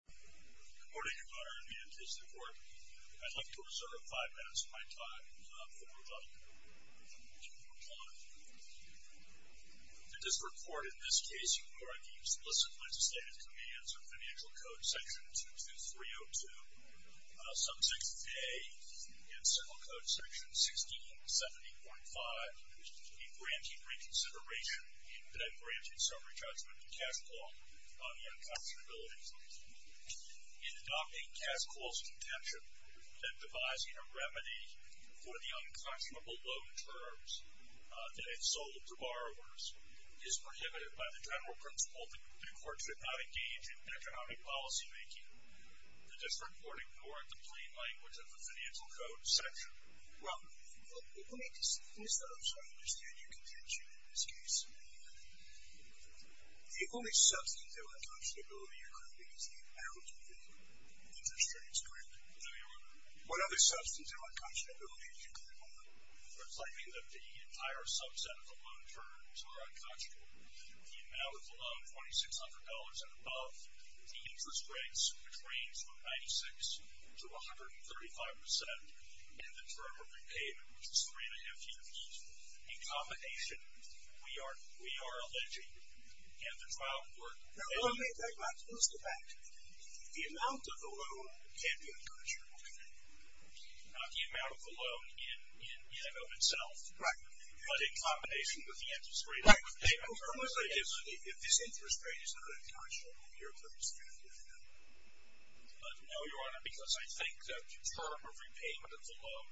Good morning, Your Honor. In the interest of the Court, I'd like to reserve five minutes of my time for rebuttal. In this report, in this case, you will record the explicit legislative commands of Financial Code Section 22302, Subsection A, and Civil Code Section 1670.5, a grantee reconsideration that granted summary judgment to CashCall on the unconscionability. In adopting CashCall's contention that devising a remedy for the unconscionable loan terms that it sold to borrowers is prohibited by the general principle that the Court should not engage in economic policymaking, the District Court ignored the plain language of the Financial Code Section. Well, let me start off so I understand your contention in this case. The only substance of unconscionability you're claiming is the amount of the interest rates, correct? No, Your Honor. What other substance of unconscionability did you claim, Your Honor? Reflecting that the entire subset of the loan terms are unconscionable, the amount of the loan, $2,600 and above, the interest rates range from 96 to 135 percent, and the term of repayment, which is three and a half years. In combination, we are alleging in the trial court that the amount of the loan can be unconscionable. Not the amount of the loan in and of itself. Right. But in combination with the interest rate of repayment. Right. If this interest rate is not unconscionable, you're claiming it's unconscionable. No, Your Honor, because I think the term of repayment of the loan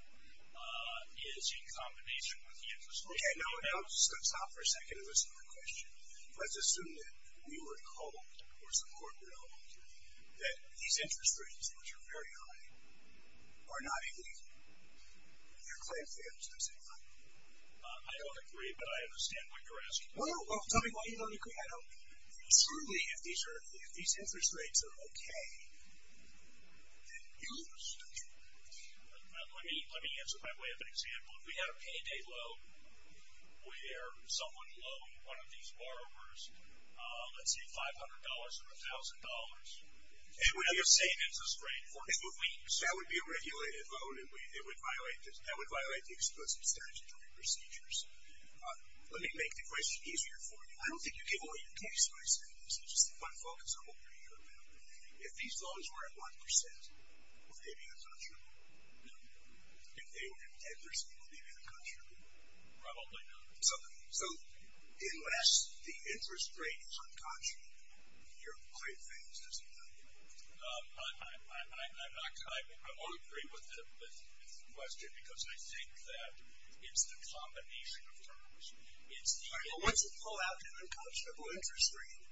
is in combination with the interest rate. Okay. Now, stop for a second and listen to my question. Let's assume that we were told, or some court were told, that these interest rates, which are very high, are not illegal. You're claiming they are just as high. I don't agree, but I understand what you're asking. Well, tell me why you don't agree. I don't agree. Certainly, if these interest rates are okay, then use the terms. Let me answer by way of an example. If we had a payday loan where someone loaned one of these borrowers, let's see, $500 or $1,000. It would be the same interest rate for two weeks. That would be a regulated loan, and that would violate the explicit statutory procedures. Let me make the question easier for you. I don't think you give all your case studies. This is just my focus on what you're here about. If these loans were at 1%, would they be unconscionable? No. If they were at 10%, would they be unconscionable? Probably not. So, unless the interest rate is unconscionable, you're claiming it's not illegal? I'm not. I would agree with the question because I think that it's the combination of terms. Once you pull out an unconscionable interest rate,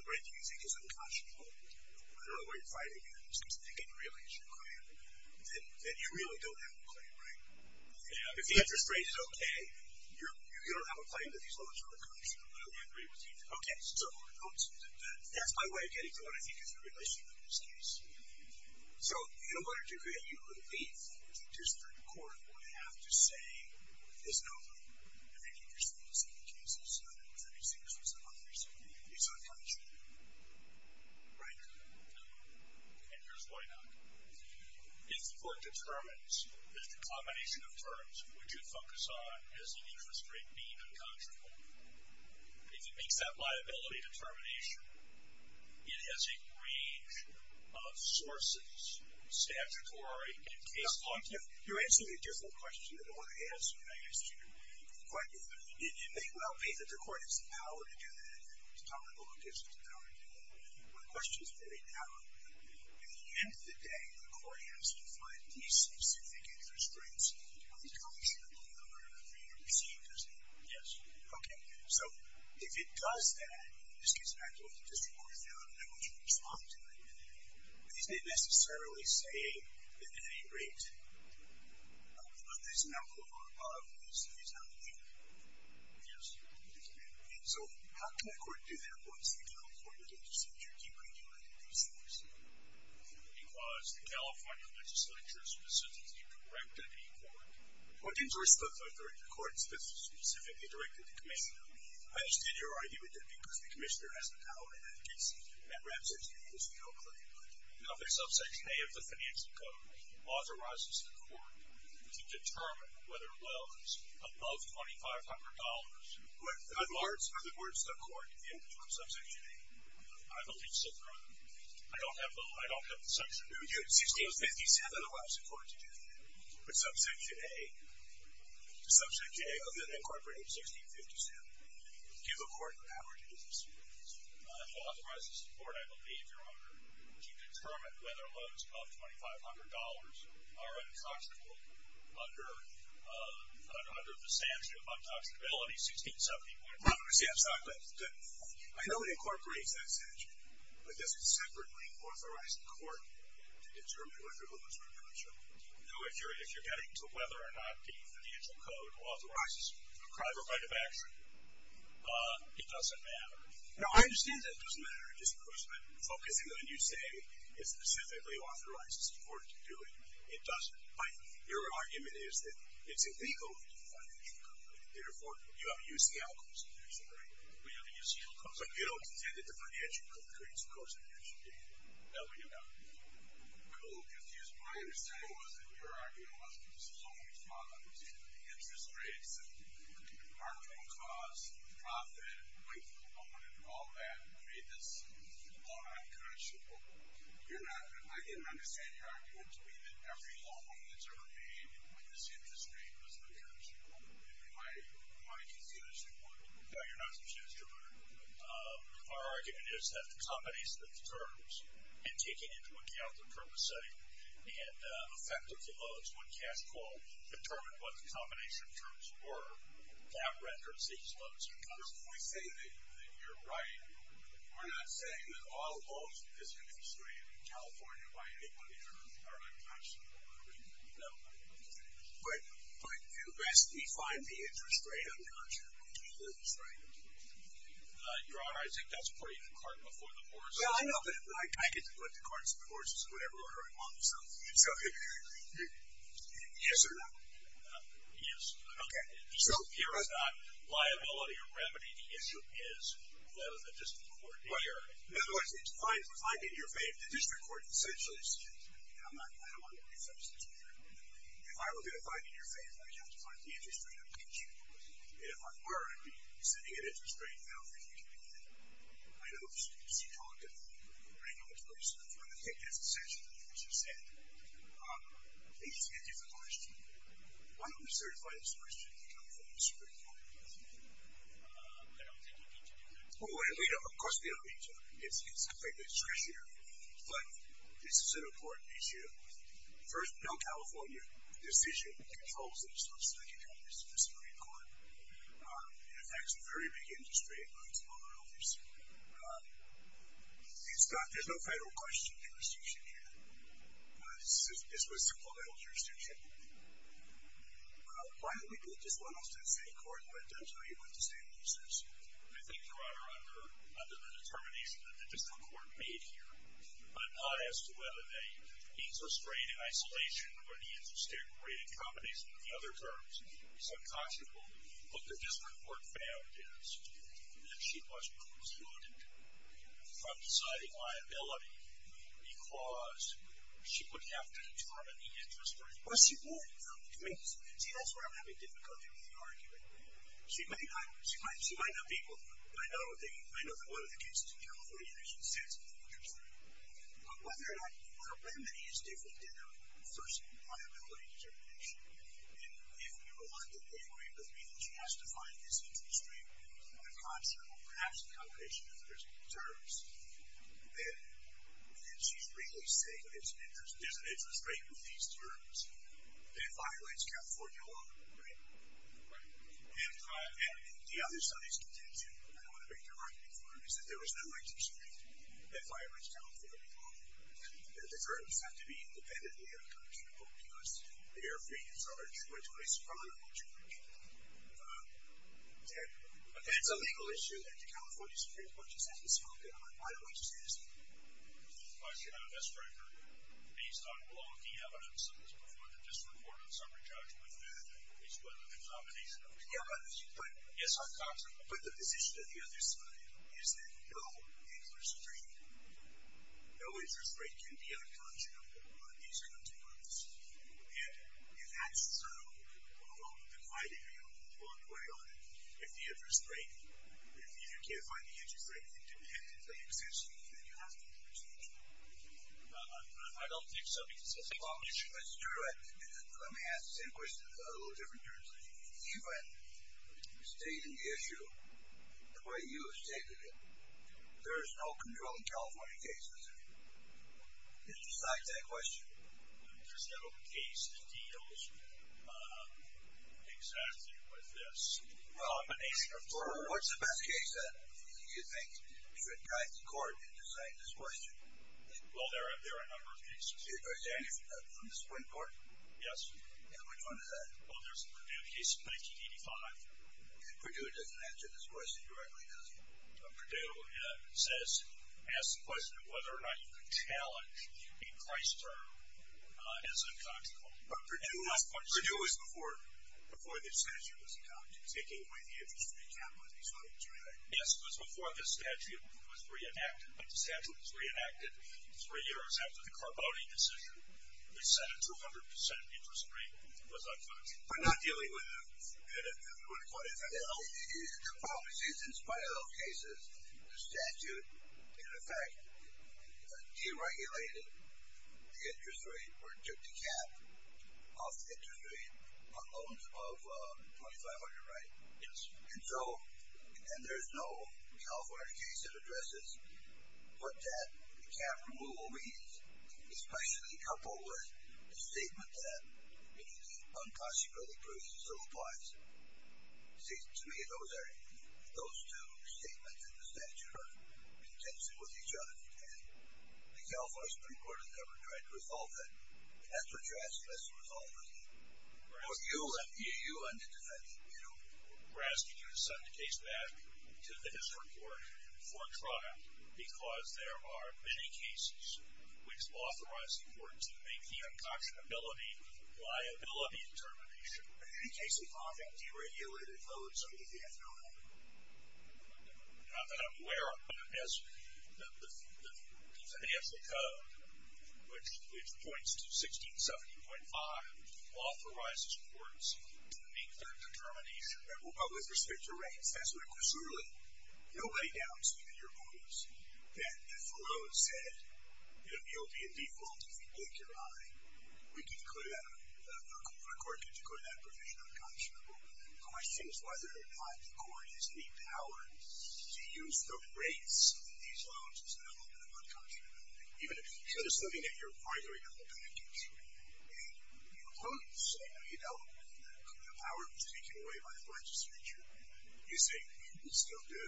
the rate that you think is unconscionable, whether or not you're fighting it, because you think it really is your claim, then you really don't have a claim, right? If the interest rate is okay, you don't have a claim that these loans are unconscionable. I would agree with you. Okay, so that's my way of getting to what I think is the relationship in this case. So, in order to get you relief, the district court would have to say there's no loan. If the interest rate is in the cases of 36% or 37%, it's unconscionable, right? No. And here's why not. If the court determines that the combination of terms which you focus on has the interest rate being unconscionable, if it makes that liability determination, it has a range of sources statutory in case law. Now, you're answering a different question than what I asked you. But it may well be that the court has the power to do that. It's tolerable, it gives us the power to do that. But the question is really how, at the end of the day, the court has to find these specific interest rates unconscionable in order for you to proceed, doesn't it? Yes. Okay. So, if it does that, in this case, I don't think the district court is going to know how much you respond to it. But you didn't necessarily say that the rate of this amount or above is not legal. Yes. Okay. So, how can the court do that once the California legislature decriminalizes these things? Because the California legislature specifically directed the court. Well, it didn't endorse the authority of the court. It specifically directed the commissioner. I understand you're arguing with that because the commissioner has the power in that case, and that wraps up this bill clearly. No, the subsection A of the financial code authorizes the court to determine whether a loan is above $2,500. But the words of the court in the end of the term, subsection A, I don't need to sit through them. I don't have the subsection. It was 57 otherwise in court to do that. But subsection A of the incorporated $1,650, do you have a court power to do this? It authorizes the court, I believe, Your Honor, to determine whether loans above $2,500 are intoxicable under the statute of intoxicability, $1,670. $1,670. Good. I know it incorporates that statute, but does it separately authorize the court to determine whether loans above $2,500 are intoxicable? No, if you're getting to whether or not the financial code authorizes a private right of action, it doesn't matter. No, I understand that it doesn't matter, just because by focusing on what you say, it specifically authorizes the court to do it. It doesn't. But your argument is that it's illegal for the financial code. Therefore, you haven't used the alcohol subsection, right? We haven't used the alcohol subsection. But you don't contend that the financial code creates a course of action, do you? That's what you're talking about. I'm a little confused. My understanding was that your argument was that it was a loan fraud. It was either the interest rates and the marginal cost, the profit, the length of the loan, and all that made this loan intoxicable. You're not. I didn't understand your argument to be that every loan that's ever made with this interest rate was intoxicable. Am I confused, Your Honor? No, you're not confused, Your Honor. Our argument is that the combination of the terms and taking into account the purpose setting and the effect of the loans when cash flow, determine what the combination of terms were, that renders these loans intoxicable. We're saying that you're right. We're not saying that all loans with this interest rate in California by anybody are intoxicable. No. But you best define the interest rate, I'm not sure. That's right. Your Honor, I think that's putting the cart before the horse. Well, I know that, but I get to put the carts before the horses in whatever order I want, so. So, yes or no? Yes. Okay. So, here it's not liability or remedy. The issue is that of the district court here. In other words, it's fine to find it in your favor. The district court essentially says, I don't want to make assumptions here. If I were going to find it in your favor, I'd have to find the interest rate of cash flow. And if I were to be sending an interest rate, I don't think you can do that. I know you can see talk of regulatory stuff, but I think that's essentially what you just said. Let me just hand you the question. Why don't we certify this question in the California District Court? I don't think we need to do that. Well, we don't need to. Of course we don't need to. It's a great district here. But this is an important issue. First, no California decision controls this. It affects a very big industry. There's no federal question jurisdiction here. This was supplemental jurisdiction. Why don't we put this one off to the state court and let them tell you what the standard is? I think you are under the determination that the district court made here, but not as to whether the interest rate in isolation or the interest rate in combination with the other terms is unconscionable. What the district court found is that she was excluded from deciding liability because she would have to determine the interest rate. Well, she would. I mean, see, that's where I'm having difficulty with the argument. She might not be able to. I know that one of the cases in California, there's an assessment interest rate. But whether or not the remedy is different than a first liability determination, and if you're willing to agree with me that she has to find this interest rate unconscionable, perhaps in combination with the other terms, then she's really saying there's an interest rate with these terms that violates California law, right? Right. And the other side is contingent, and I don't want to make the argument for it, that violates California law, that the terms have to be independently unconscionable because they are free and sovereign. She went to a supreme court jury. It's a legal issue that the California Supreme Court just hasn't spoken on. Why don't we just ask it? The question I would ask, Frank, based on all of the evidence that was before the district court and summary judgment, is whether the combination of the other terms is unconscionable. Yes, unconscionable. But the position of the other side is that no interest rate, no interest rate can be unconscionable on these terms. And that's sort of the criteria along the way on it. If the interest rate, if you can't find the interest rate independently unconscionable, then you have to introduce the interest rate. I don't think so because it's a legal issue. Let me ask the same question in a little different terms. Even stating the issue the way you have stated it, there is no control in California cases. Did you cite that question? There's no case that deals exactly with this. Well, what's the best case that you think should guide the court Well, there are a number of cases. From the Supreme Court? Yes. And which one is that? Well, there's a Purdue case from 1985. Purdue doesn't answer this question directly, does it? Purdue says, ask the question of whether or not you could challenge a price term as unconscionable. But Purdue was before the statute was adopted, taking away the interest rate cap on these items, right? Yes, it was before the statute was reenacted. The statute was reenacted three years after the Carboni decision, which said a 200% interest rate was unfit. We're not dealing with that. Well, in spite of those cases, the statute, in effect, deregulated the interest rate or took the cap off the interest rate on loans of 2,500, right? Yes. And there's no California case that addresses what that cap removal means, especially coupled with the statement that the unconscionability provision still applies. See, to me, those two statements in the statute are in tension with each other. And the California Supreme Court has never tried to resolve that. And that's what you're asking us to resolve, isn't it? Well, you ended up asking me to send the case back to the district court for trial because there are many cases which authorize the court to make the unconscionability liability determination. Are there any cases offering deregulated loans under the FAA? Not that I'm aware of. The financial code, which points to 1670.5, authorizes courts to make their determination with respect to rates. That's what it concerns with. Nobody doubts, even your opponents, that if a loan said, you know, it would be a default if we blink your eye, we could declare that a provision unconscionable. The question is whether or not the court has any power to use the rates of these loans as an element of unconscionability. Even if there's nothing that you're arguing about, your opponents say, you know, the power was taken away by the legislature. You say, you can still do.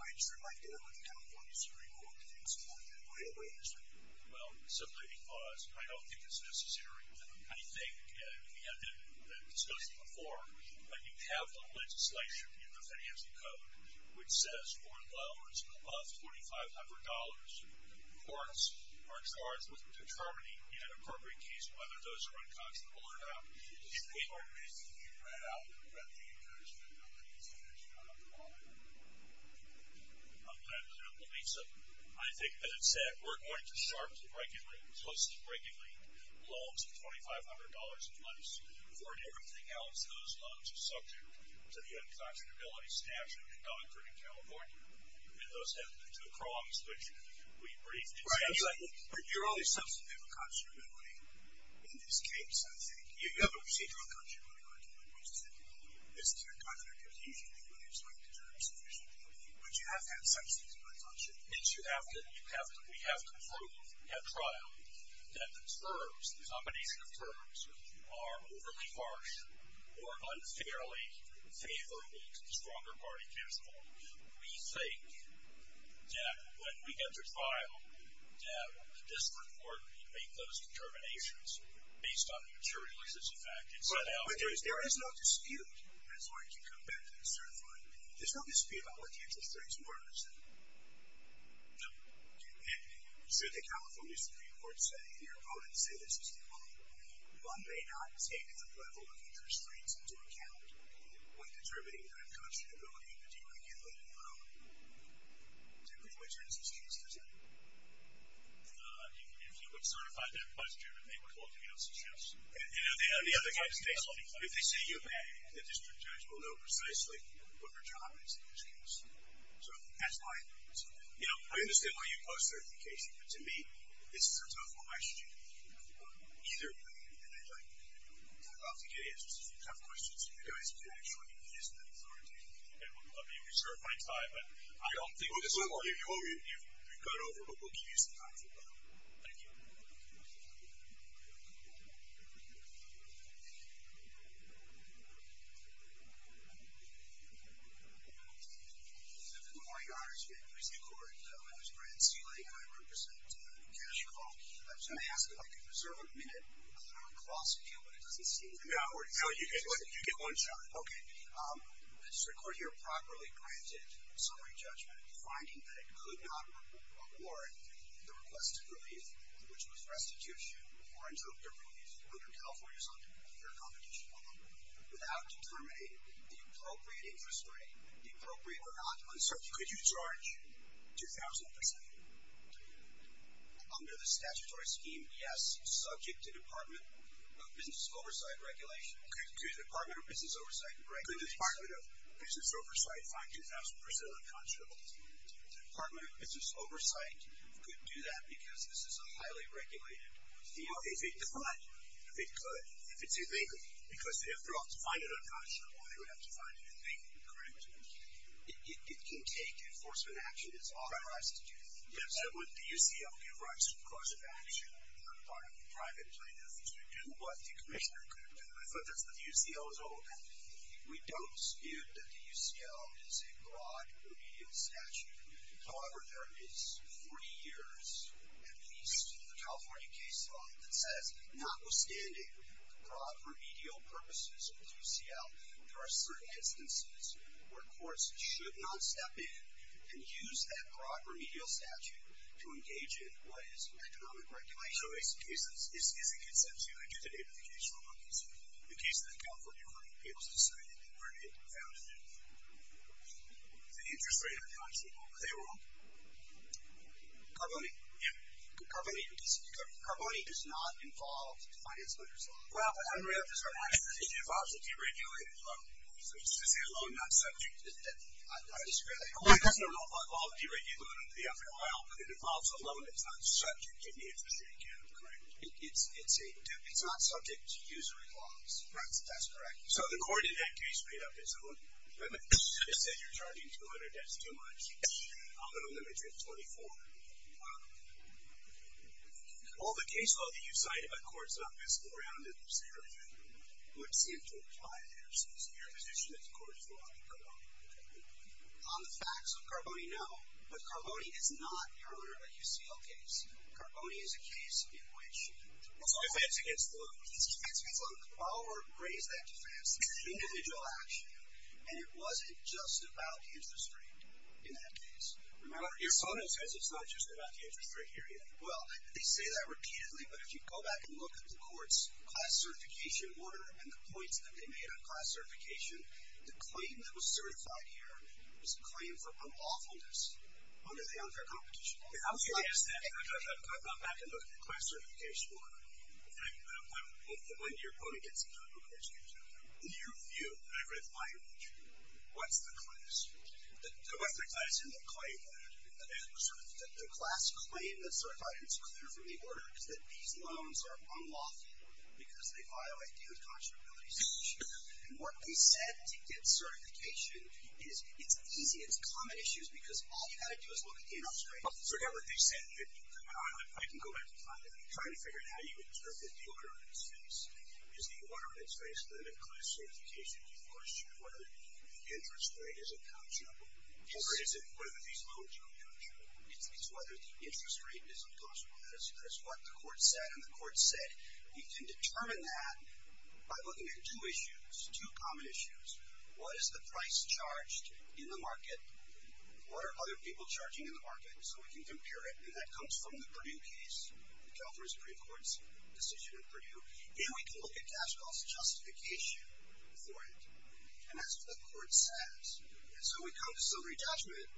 I just would like to know if the California Supreme Court thinks that way. Well, simply because I don't think it's necessary. I think we had the discussion before. You have the legislation in the financial code which says that for loans of $2,500, courts are charged with determining in an appropriate case whether those are unconscionable or not. Is there any argument that you can write out that would prevent the insurance companies from taking on the problem? I'm glad to know the reason. I think, as I said, we're going to start to regularly, close to regularly, loans of $2,500 a month. For everything else, those loans are subject to the unconscionability statute in California, and those have the two prongs which we briefed. Right. You're only subject to unconscionability in this case, I think. You have a procedural unconscionability argument, which is that you have a procedural unconscionability, but it's not determined sufficiently. But you have to have substance to unconscionability. Yes, you have to. You have to. We have to prove at trial that the terms, the combination of terms, are overly harsh or unfairly favorable to the stronger party principle. We think that when we get to trial, that this court can make those determinations based on the materializes effect. But there is no dispute, as long as you come back to the certified, there's no dispute about what the interest rates were, is there? No. You said the California Supreme Court said, and your opponents say this as well, one may not take the level of interest rates into account when determining the unconscionability of a deregulated loan. Is that the point in this case, is it? If you would certify that question, they would look at us and say, yes. And if they say you may, the district judge will know precisely what their job is in this case. So that's why I think it's fair. You know, I understand why you post-certification, but to me, this is a tough question. Either way, and I'd like to get answers to some tough questions, because it actually is an authority, and I'll be reserving my time, but I don't think we've gone over what we'll give you some time for. Thank you. Thank you. Good morning, Your Honor. I'm here at the Supreme Court. My name is Brad Seeley, and I represent Cash Call. I was going to ask if I could reserve a minute. I don't want to cross you, but it doesn't seem like an hour. No, you get one shot. Okay. The Supreme Court here properly granted summary judgment finding that it could not award the request of relief, which was restitution or interim relief, under California's unconstitutional law, without determining the appropriate interest rate, the appropriate or not uncertain rate. Could you charge 2,000 percent? Under the statutory scheme, yes, subject to Department of Business Oversight regulations. Could the Department of Business Oversight regulations find 2,000 percent unconscionable? The Department of Business Oversight could do that because this is a highly regulated field. Well, if it could. If it could. If it's illegal. Because if they're allowed to find it unconscionable, they would have to find a new thing. Correct. It can take enforcement action. It's authorized to do that. Yes. And would the UCL give rights to the course of action on the part of the private plaintiffs to do what the commissioner could do? I thought that's what the UCL was all about. We don't view that the UCL is a broad remedial statute. However, there is 40 years, at least, in the California case law that says, notwithstanding the broad remedial purposes of the UCL, there are certain instances where courts should not step in and use that broad remedial statute to engage in what is economic regulation. So is it consensual? I get the name of the case law, but the case in the California Court of Appeals decided that they weren't able to found it. Is the interest rate unconscionable? They rule. Carboni? Yeah. Carboni does not involve finance matters at all. Well, I don't really have to start asking. It involves a deregulated loan. So is it a loan not subject? I disagree. It doesn't involve a deregulated loan. Yeah. Well, it involves a loan that's not subject if the interest rate can't be corrected. It's not subject to usury laws. Right. That's correct. So the court in that case made up its own. They said you're charging 200 debts too much. I'm going to limit you to 24. Wow. All the case law that you cite about courts office or around it would seem to apply there. So your position is the court's law in Carboni? On the facts of Carboni, no. But Carboni is not, your Honor, a UCL case. Carboni is a case in which it's a defense against the loan. It's a defense against the loan. Bauer raised that defense. It's an individual action. And it wasn't just about the interest rate in that case. Remember, your son says it's not just about the interest rate here yet. Well, they say that repeatedly. But if you go back and look at the court's class certification order and the points that they made on class certification, the claim that was certified here was a claim for unlawfulness under the unfair competition law. I'm curious then, if I go back and look at the class certification order, when your opponent gets in trouble, in your view, and I've read the language, what's the class? What's the class in the claim letter? The class claim that's certified and it's clear from the order is that these loans are unlawful because they violate the unconscionability statute. And what they said to get certification is it's easy. It's common issues because all you've got to do is look in up straight. I forgot what they said. I can go back and find it. I'm trying to figure out how you would interpret the order in its face. Is the order in its face that a class certification deforestation, whether the interest rate is unconscionable, or is it whether these loans are unconscionable? It's whether the interest rate is unconscionable. That's what the court said and the court said. We can determine that by looking at two issues, two common issues. What is the price charged in the market? What are other people charging in the market? So we can compare it, and that comes from the Purdue case, the California Supreme Court's decision in Purdue. Here we can look at cash loss justification for it, and that's what the court says. And so we come to silvery judgment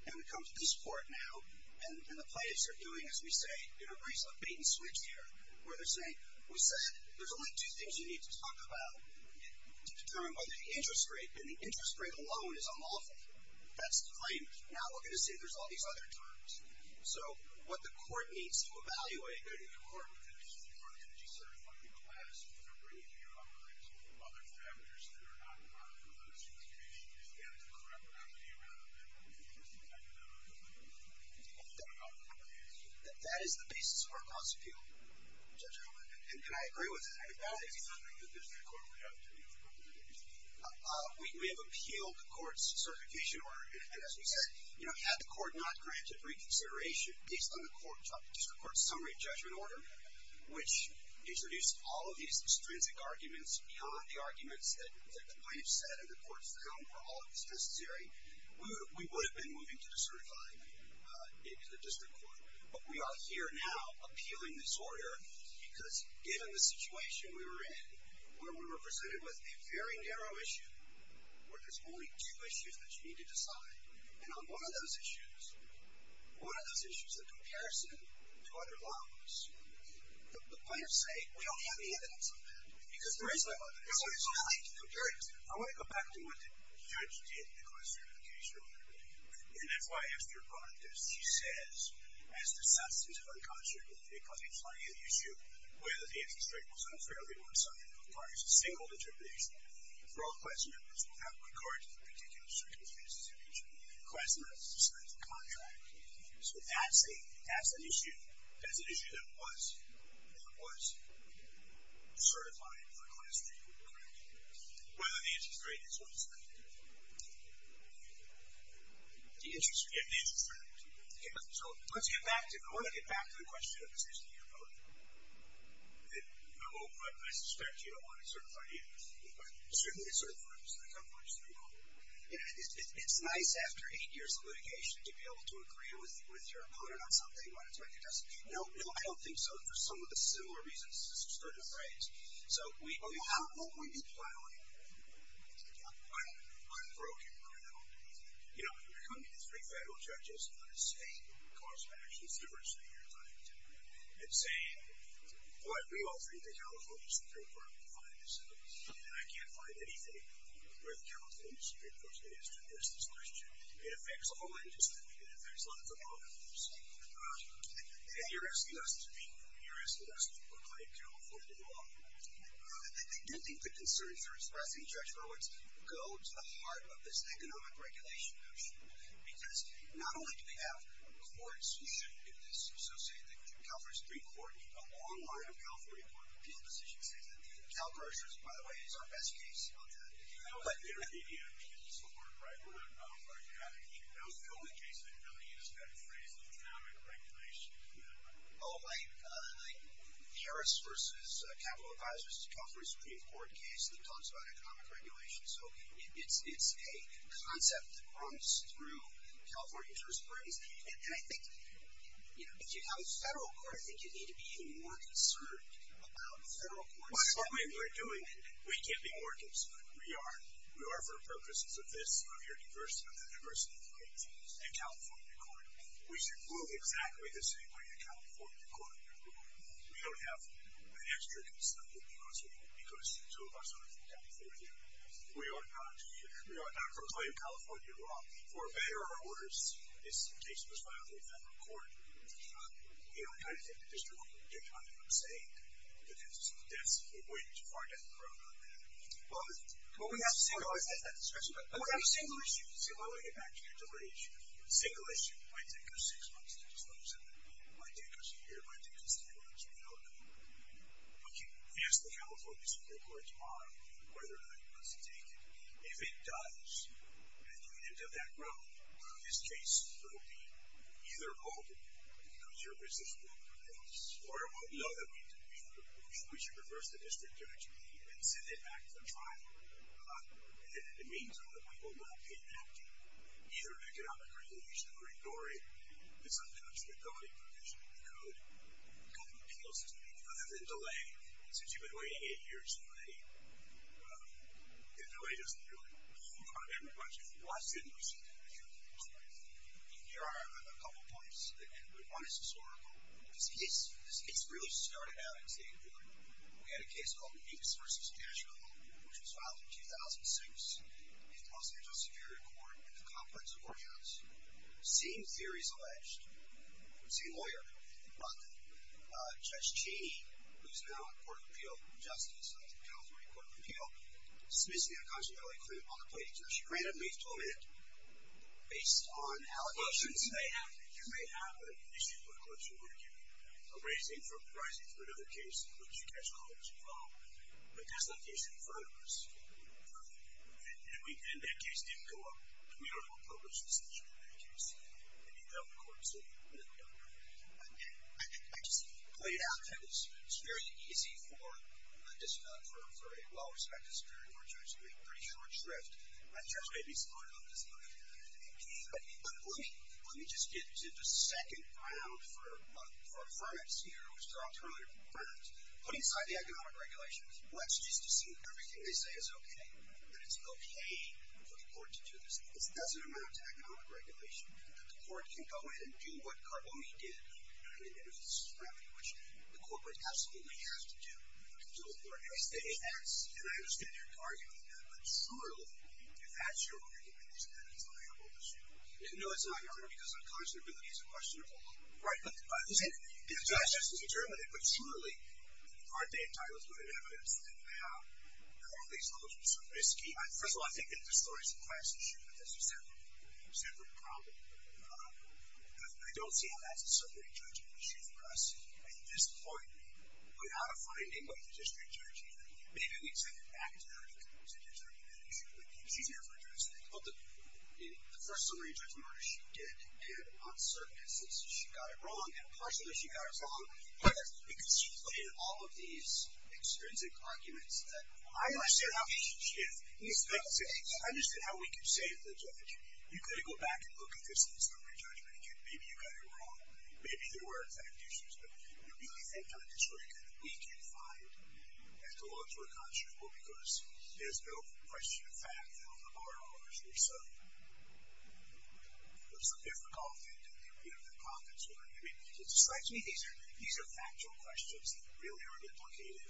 and we come to this court now, and the plaintiffs are doing, as we say, in a reasonable bait-and-switch here where they're saying, we said there's only two things you need to talk about to determine whether the interest rate, and the interest rate alone is unlawful. That's the claim. Now we're going to say there's all these other terms. So what the court needs to evaluate, I think that in court, the District Court's energy-certifying class is going to bring to your office other factors that are not part of the litigation. You need to get into the correct remedy rather than the existing economic and legal issues. That is the basis of our cost of appeal, Judge Coleman, and I agree with that. I think that is something the District Court will have to do for both of the cases. We have appealed the court's certification order, and as we said, you know, had the court not granted reconsideration based on the District Court's summary judgment order, which introduced all of these extrinsic arguments beyond the arguments that the plaintiff said and the court's done for all of this necessary, we would have been moving to the certified District Court. But we are here now appealing this order because given the situation we were in, where we were presented with a very narrow issue, where there's only two issues that you need to decide, and on one of those issues, one of those issues is the comparison to other laws. The plaintiffs say, we don't have any evidence of that because there is no evidence. There's no way to compare it. I want to go back to what the judge did in the cost of certification order, and that's why Esther Pontes, she says, as the substance of unconscionable, because it's finding an issue where the answer strike was unfairly one-sided requires a single determination. For all class members, without regard to the particular circumstances in which class members dispense a contract. So that's an issue, that's an issue that was, that was certified for class treatment, correct? Whether the interest rate is one-sided. The interest rate. Yeah, the interest rate. Okay, so let's get back to, I want to get back to the question of the 60 year voting. No, I suspect you don't want to certify the interest rate, but certainly the certified district, how far is that going? It's nice after eight years of litigation to be able to agree with your opponent on something when it's recognized. No, no, I don't think so, for some of the similar reasons, it's a certain phrase. So, how long were you filing? I'm broken right now. You know, you're coming to three federal judges on a state cost of actions difference that you're talking to, and saying, boy, we all think the California Supreme Court will find this out, and I can't find anything with California Supreme Court that is to address this question. It affects all interests, and it affects a lot of demographers. And you're asking us to be, you're asking us to look like California law. I do think the concerns you're expressing, Judge Roberts, go to the heart of this economic regulation motion, because not only do we have courts who shouldn't get this associated thing, but your California Supreme Court, a long line of California Court of Appeal decisions says that CalPERS, by the way, is our best case on that. No intermediate legal support, right? We're not qualified. That was the only case that really used that phrase, economic regulation. Oh, like Harris versus Capital Advisors, it's a California Supreme Court case that talks about economic regulation. So, it's a concept that runs through California jurisprudence. And I think, you know, if you have a federal court, I think you need to be even more concerned about the federal courts. By the way, we're doing it. We can't be more concerned. We are. We are for the purposes of this, of your diversity and the diversity of cases in California court. We should move exactly the same way in California court. We don't have an extra case that would be possible because two of us are from California. We are not. We are not from California law. For better or worse, this case was filed in federal court. You know, I kind of think that there's no point in getting onto what I'm saying because that's a way to forget the road on that. Well, we have a single issue. Well, let me get back to your delay issue. A single issue might take us six months to disclose it. It might take us a year. It might take us three months. We don't know. We can ask the California Supreme Court tomorrow whether or not it wants to take it. If it does, and if you can get to that road, this case will be either halted because your business won't prevail or we'll know that we need to be able to push. We should reverse the district judiciary and send it back to the trial. And in the meantime, we will not be enacting either an economic resolution or ignoring this unconstitutability provision in the code that appeals to me. Other than delay, since you've been waiting eight years for a delay, the delay doesn't really impact everybody. Why shouldn't we see delay? Here are a couple points. One is historical. This case really started out in St. Louis. We had a case called Hicks v. Nashville, which was filed in 2006 in the Los Angeles Superior Court at the Conference of Courthouse. Same theory is alleged. Same lawyer. But Judge Cheney, who's now on Court of Appeal Justice, the California Court of Appeal, dismissed the unconstitutability claim on the plaintiff. She ran a brief 12-minute based on allegations. Well, you may have an issue with a collection of murder cases, a raising for a perjury case, or another case in which you catch a collection of all. But that's not the issue in front of us. And that case didn't go up. We don't have a published decision on that case. It didn't go up in court, so we don't know. I just pointed out that it's very easy for a well-respected Superior Court judge to make a pretty short drift. My judge may be smart enough to say, okay, but let me just get to the second round for affirmance here, which was dropped earlier. Affirmance. Putting aside the economic regulations, let's just assume everything they say is okay, that it's okay for the court to do this. It doesn't amount to economic regulation that the court can go in and do what Carbone did in the case of Scrappy, which the corporate absolutely has to do to do a fair case. And I understand your argument on that, but surely, if that's your argument, then it's not your own issue. No, it's not your argument, because unconscionability is a question of all of them. Right. It's just as determined. But surely, aren't they entitled to that evidence that they have? And all these laws are so risky. First of all, I think that the stories of class issue are just a separate problem. I don't see how that's a separate judgment issue for us. At this point, without a finding by the district judge, even, maybe we'd send it back to her if it was a district judgment issue. She's here for a judgment. But the first summary judgment order she did, and on certain instances, she got it wrong, and partially she got it wrong, because she played all of these extrinsic arguments that I understand how she should have. I understand how we could say to the judge, you could go back and look at this in the summary judgment, and maybe you got it wrong. Maybe there were fact issues, but do you really think on this record that we can find that the laws were constrainable because there's no question of fact that all the bar orders were so difficult and that we don't have confidence with them? I mean, it just strikes me these are factual questions that really aren't implicated.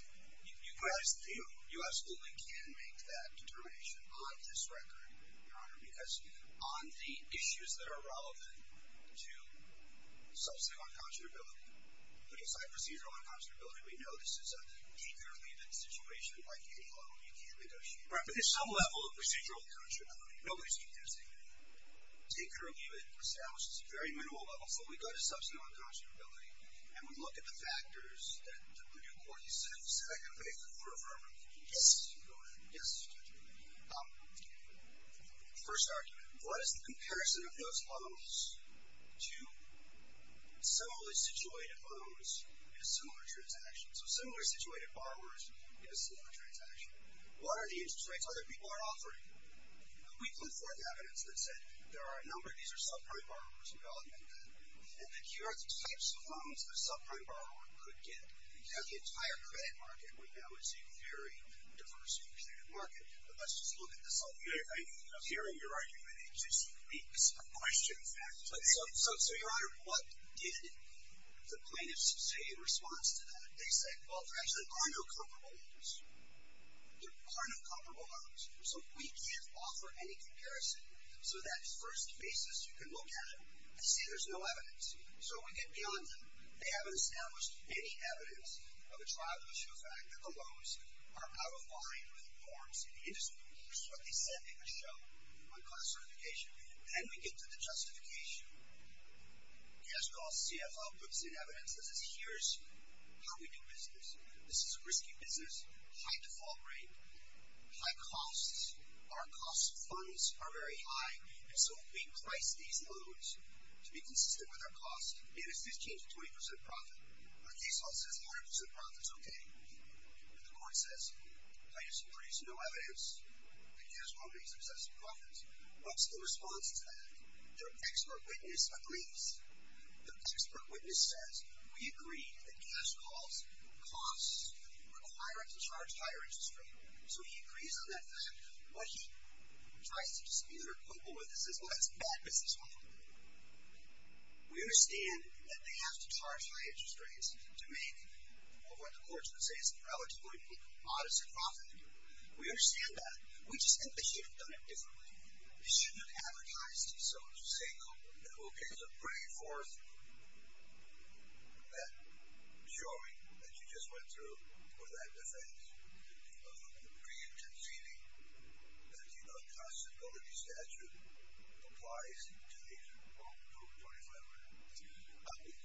You guys only can make that determination on this record, Your Honor, because on the issues that are relevant to substantive unconscionability, putting aside procedural unconscionability, we know this is an incurable event situation like a loan you can't negotiate. Right, but there's some level of procedural unconscionability. Nobody's going to say anything. It's incurable. It establishes a very minimal level. So we go to substantive unconscionability, and we look at the factors that the Purdue Court has set up specifically for affirmative convenience. Yes, Your Honor. Yes, Mr. Judge. First argument. What is the comparison of those loans to similarly situated loans in a similar transaction? So similar situated borrowers in a similar transaction. What are the interest rates other people are offering? We put forth evidence that said there are a number of these are subprime borrowers and value-added debt. And then here are the types of loans a subprime borrower could get. You know, the entire credit market, we know, is a very diverse and competitive market. But let's just look at this a little bit. I'm hearing your argument. It's a question of fact. So, Your Honor, what did the plaintiffs say in response to that? They said, well, there actually are no comparable loans. There are no comparable loans. So we can't offer any comparison. So that first basis, you can look at it and see there's no evidence. So we get beyond them. They haven't established any evidence of a trial to show the fact that the loans are out of line with the norms in the industry. So they send in a show on class certification. Then we get to the justification. Cash Costs CFO puts in evidence and says, here's how we do business. This is a risky business, high default rate, high costs. Our cost funds are very high. And so if we price these loans to be consistent with our cost, it is 15% to 20% profit. Our case law says 100% profit's OK. But the court says plaintiffs have produced no evidence that Cash Costs makes excessive profits. What's the response to that? Their expert witness agrees. Their expert witness says, we agree that Cash Costs require us to charge higher interest rates. So he agrees on that fact. But he tries to dispute or quibble with us and says, well, that's bad, Mrs. Hoffman. We understand that they have to charge higher interest rates to make what the courts would say is a relatively modest profit. We understand that. We just think that you should have done it differently. You shouldn't have advertised these loans. You say, OK, so bring forth that showing that you just went through with that defense. You create a feeling that the unconstitutability statute applies to the over 25-year-old.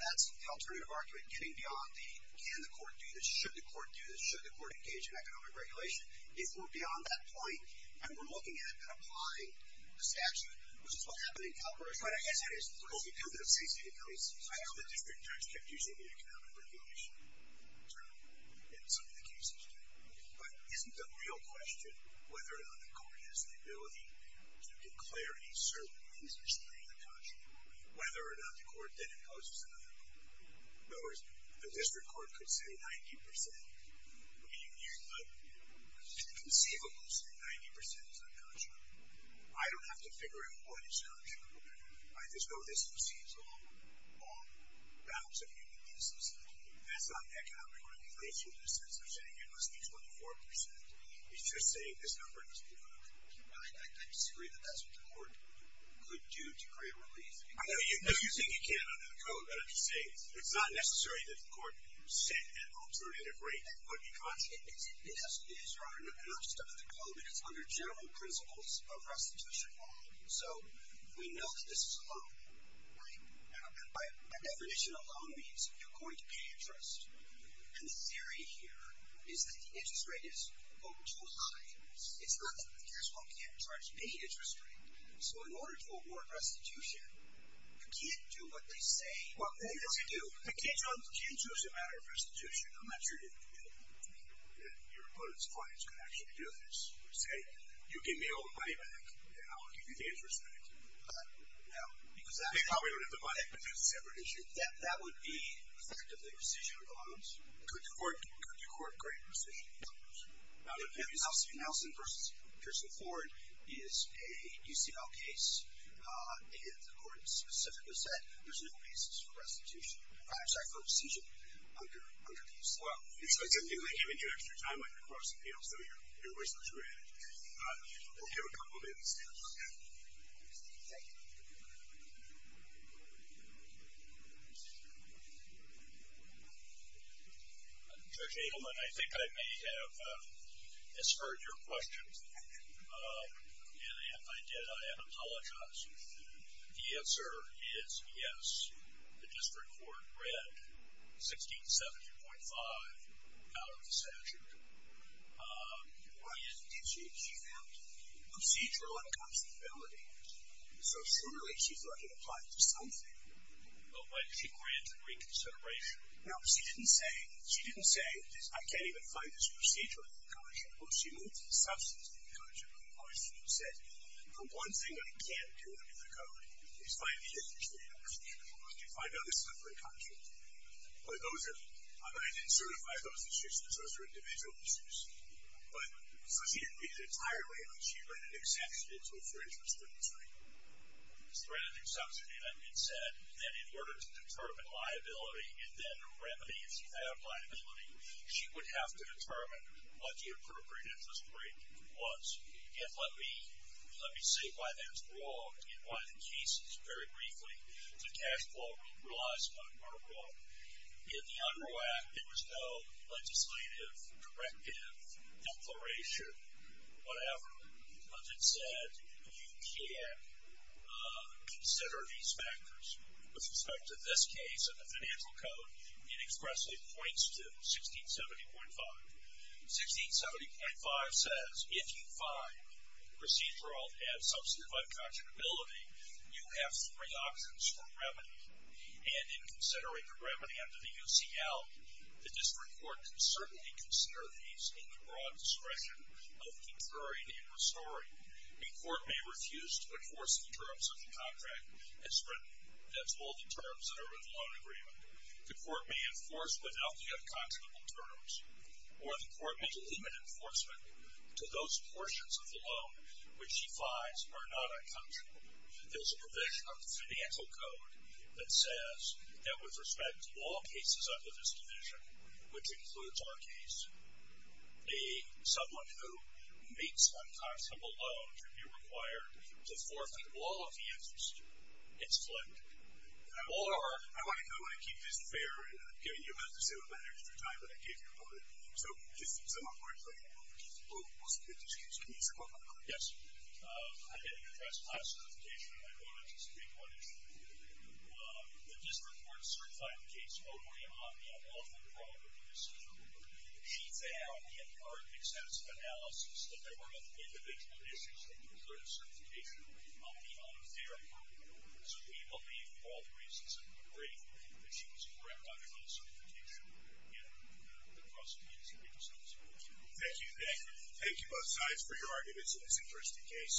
That's the alternative argument, getting beyond the, can the court do this, should the court do this, should the court engage in economic regulation. If we're beyond that point and we're looking at and applying the statute, which is what happened in Calgary. But I guess it is. Because you do the CCD case. I know the district judge kept using the economic regulation term in some of the cases. But isn't the real question whether or not the court has the ability to declare a certain interest rate unconscionable? Whether or not the court then imposes another one. In other words, the district court could say 90%. You could conceivably say 90% is unconscionable. I don't have to figure out why it's unconscionable. I just know this exceeds all bounds of human necessity. That's not economic regulation in the sense of saying it must be 24%. It's just saying this number must be 12. I disagree that that's what the court could do to create relief. If you think it can under the code, then I'm just saying it's not necessary that the court set an alternative rate that would be conscionable. It is, Your Honor. And not just under the code, but it's under general principles of restitution law. So we know that this is a loan. And by definition, a loan means you're going to pay interest. And the theory here is that the interest rate is a little too high. It's not that the district court can't charge any interest rate. So in order to award restitution, you can't do what they say you're going to do. You can't do it as a matter of restitution unless you're giving it to me. Your opponent's clients could actually do this. Say, you give me all the money back, and I'll give you the interest back. No, because that would be a separate issue. Your Honor. Could the court grant restitution? No, Your Honor. Now, the case of Nelson v. Pearson Ford is a UCL case. And the court specifically said there's no basis for restitution. I'm sorry, for restitution under these laws. Well, it's technically giving you extra time on your cross-appeals. So your voice is granted. We'll give a couple minutes. Thank you. Judge Adelman, I think I may have misheard your question. And if I did, I apologize. The answer is yes. The district court read 1670.5 out of the statute. What? Did she? She found procedural inconstability. So surely she thought it applied to something. Well, why did she grant reconsideration? No, she didn't say, she didn't say, I can't even find this procedural inconstability. Well, she moved to the substantive inconstability clause. She said, the one thing I can't do under the code is find the additional tax. You can find other stuff inconstant. But those are, I didn't certify those issues. Those are individual issues. But, so she didn't read it entirely out. She read an exception into it for interest of industry. The strategic substantive, I mean, she said that in order to determine liability, and then remedy if you have liability, she would have to determine what the appropriate interest rate was. And let me say why that's wrong, and why the cases, very briefly, the cash flow relies upon are wrong. In the under act, there was no legislative, directive, declaration, whatever. But it said, you can consider these factors. With respect to this case and the financial code, it expressly points to 1670.5. 1670.5 says, if you find procedural and substantive inconstability, you have three options for remedy. And in considering the remedy under the UCL, the district court can certainly consider these in the broad discretion of concurring and restoring. The court may refuse to enforce the terms of the contract as written. That's all the terms that are in the loan agreement. The court may enforce without the unconscionable terms. Or the court may delimit enforcement to those portions of the loan which she finds are not unconscionable. There's a provision of the financial code that says that with respect to all cases under this division, which includes our case, someone who makes unconscionable loans would be required to forfeit all of the interest. It's flipped. Or I want to keep this fair. You have to save a bit of extra time. But I gave you a moment. So just to sum up what I'm saying, we'll submit this case. Can you sum up? Yes. I didn't address my certification. I wanted to speak on it. The district court certified the case on the unlawful fraud of the district court. She found in her extensive analysis that there were individual issues with the certification of the unfair court. So we believe, for all the reasons that we agree, that she was correct on her own certification. And the prosecution is going to submit this case. Thank you. Thank you both sides for your arguments on this interesting case.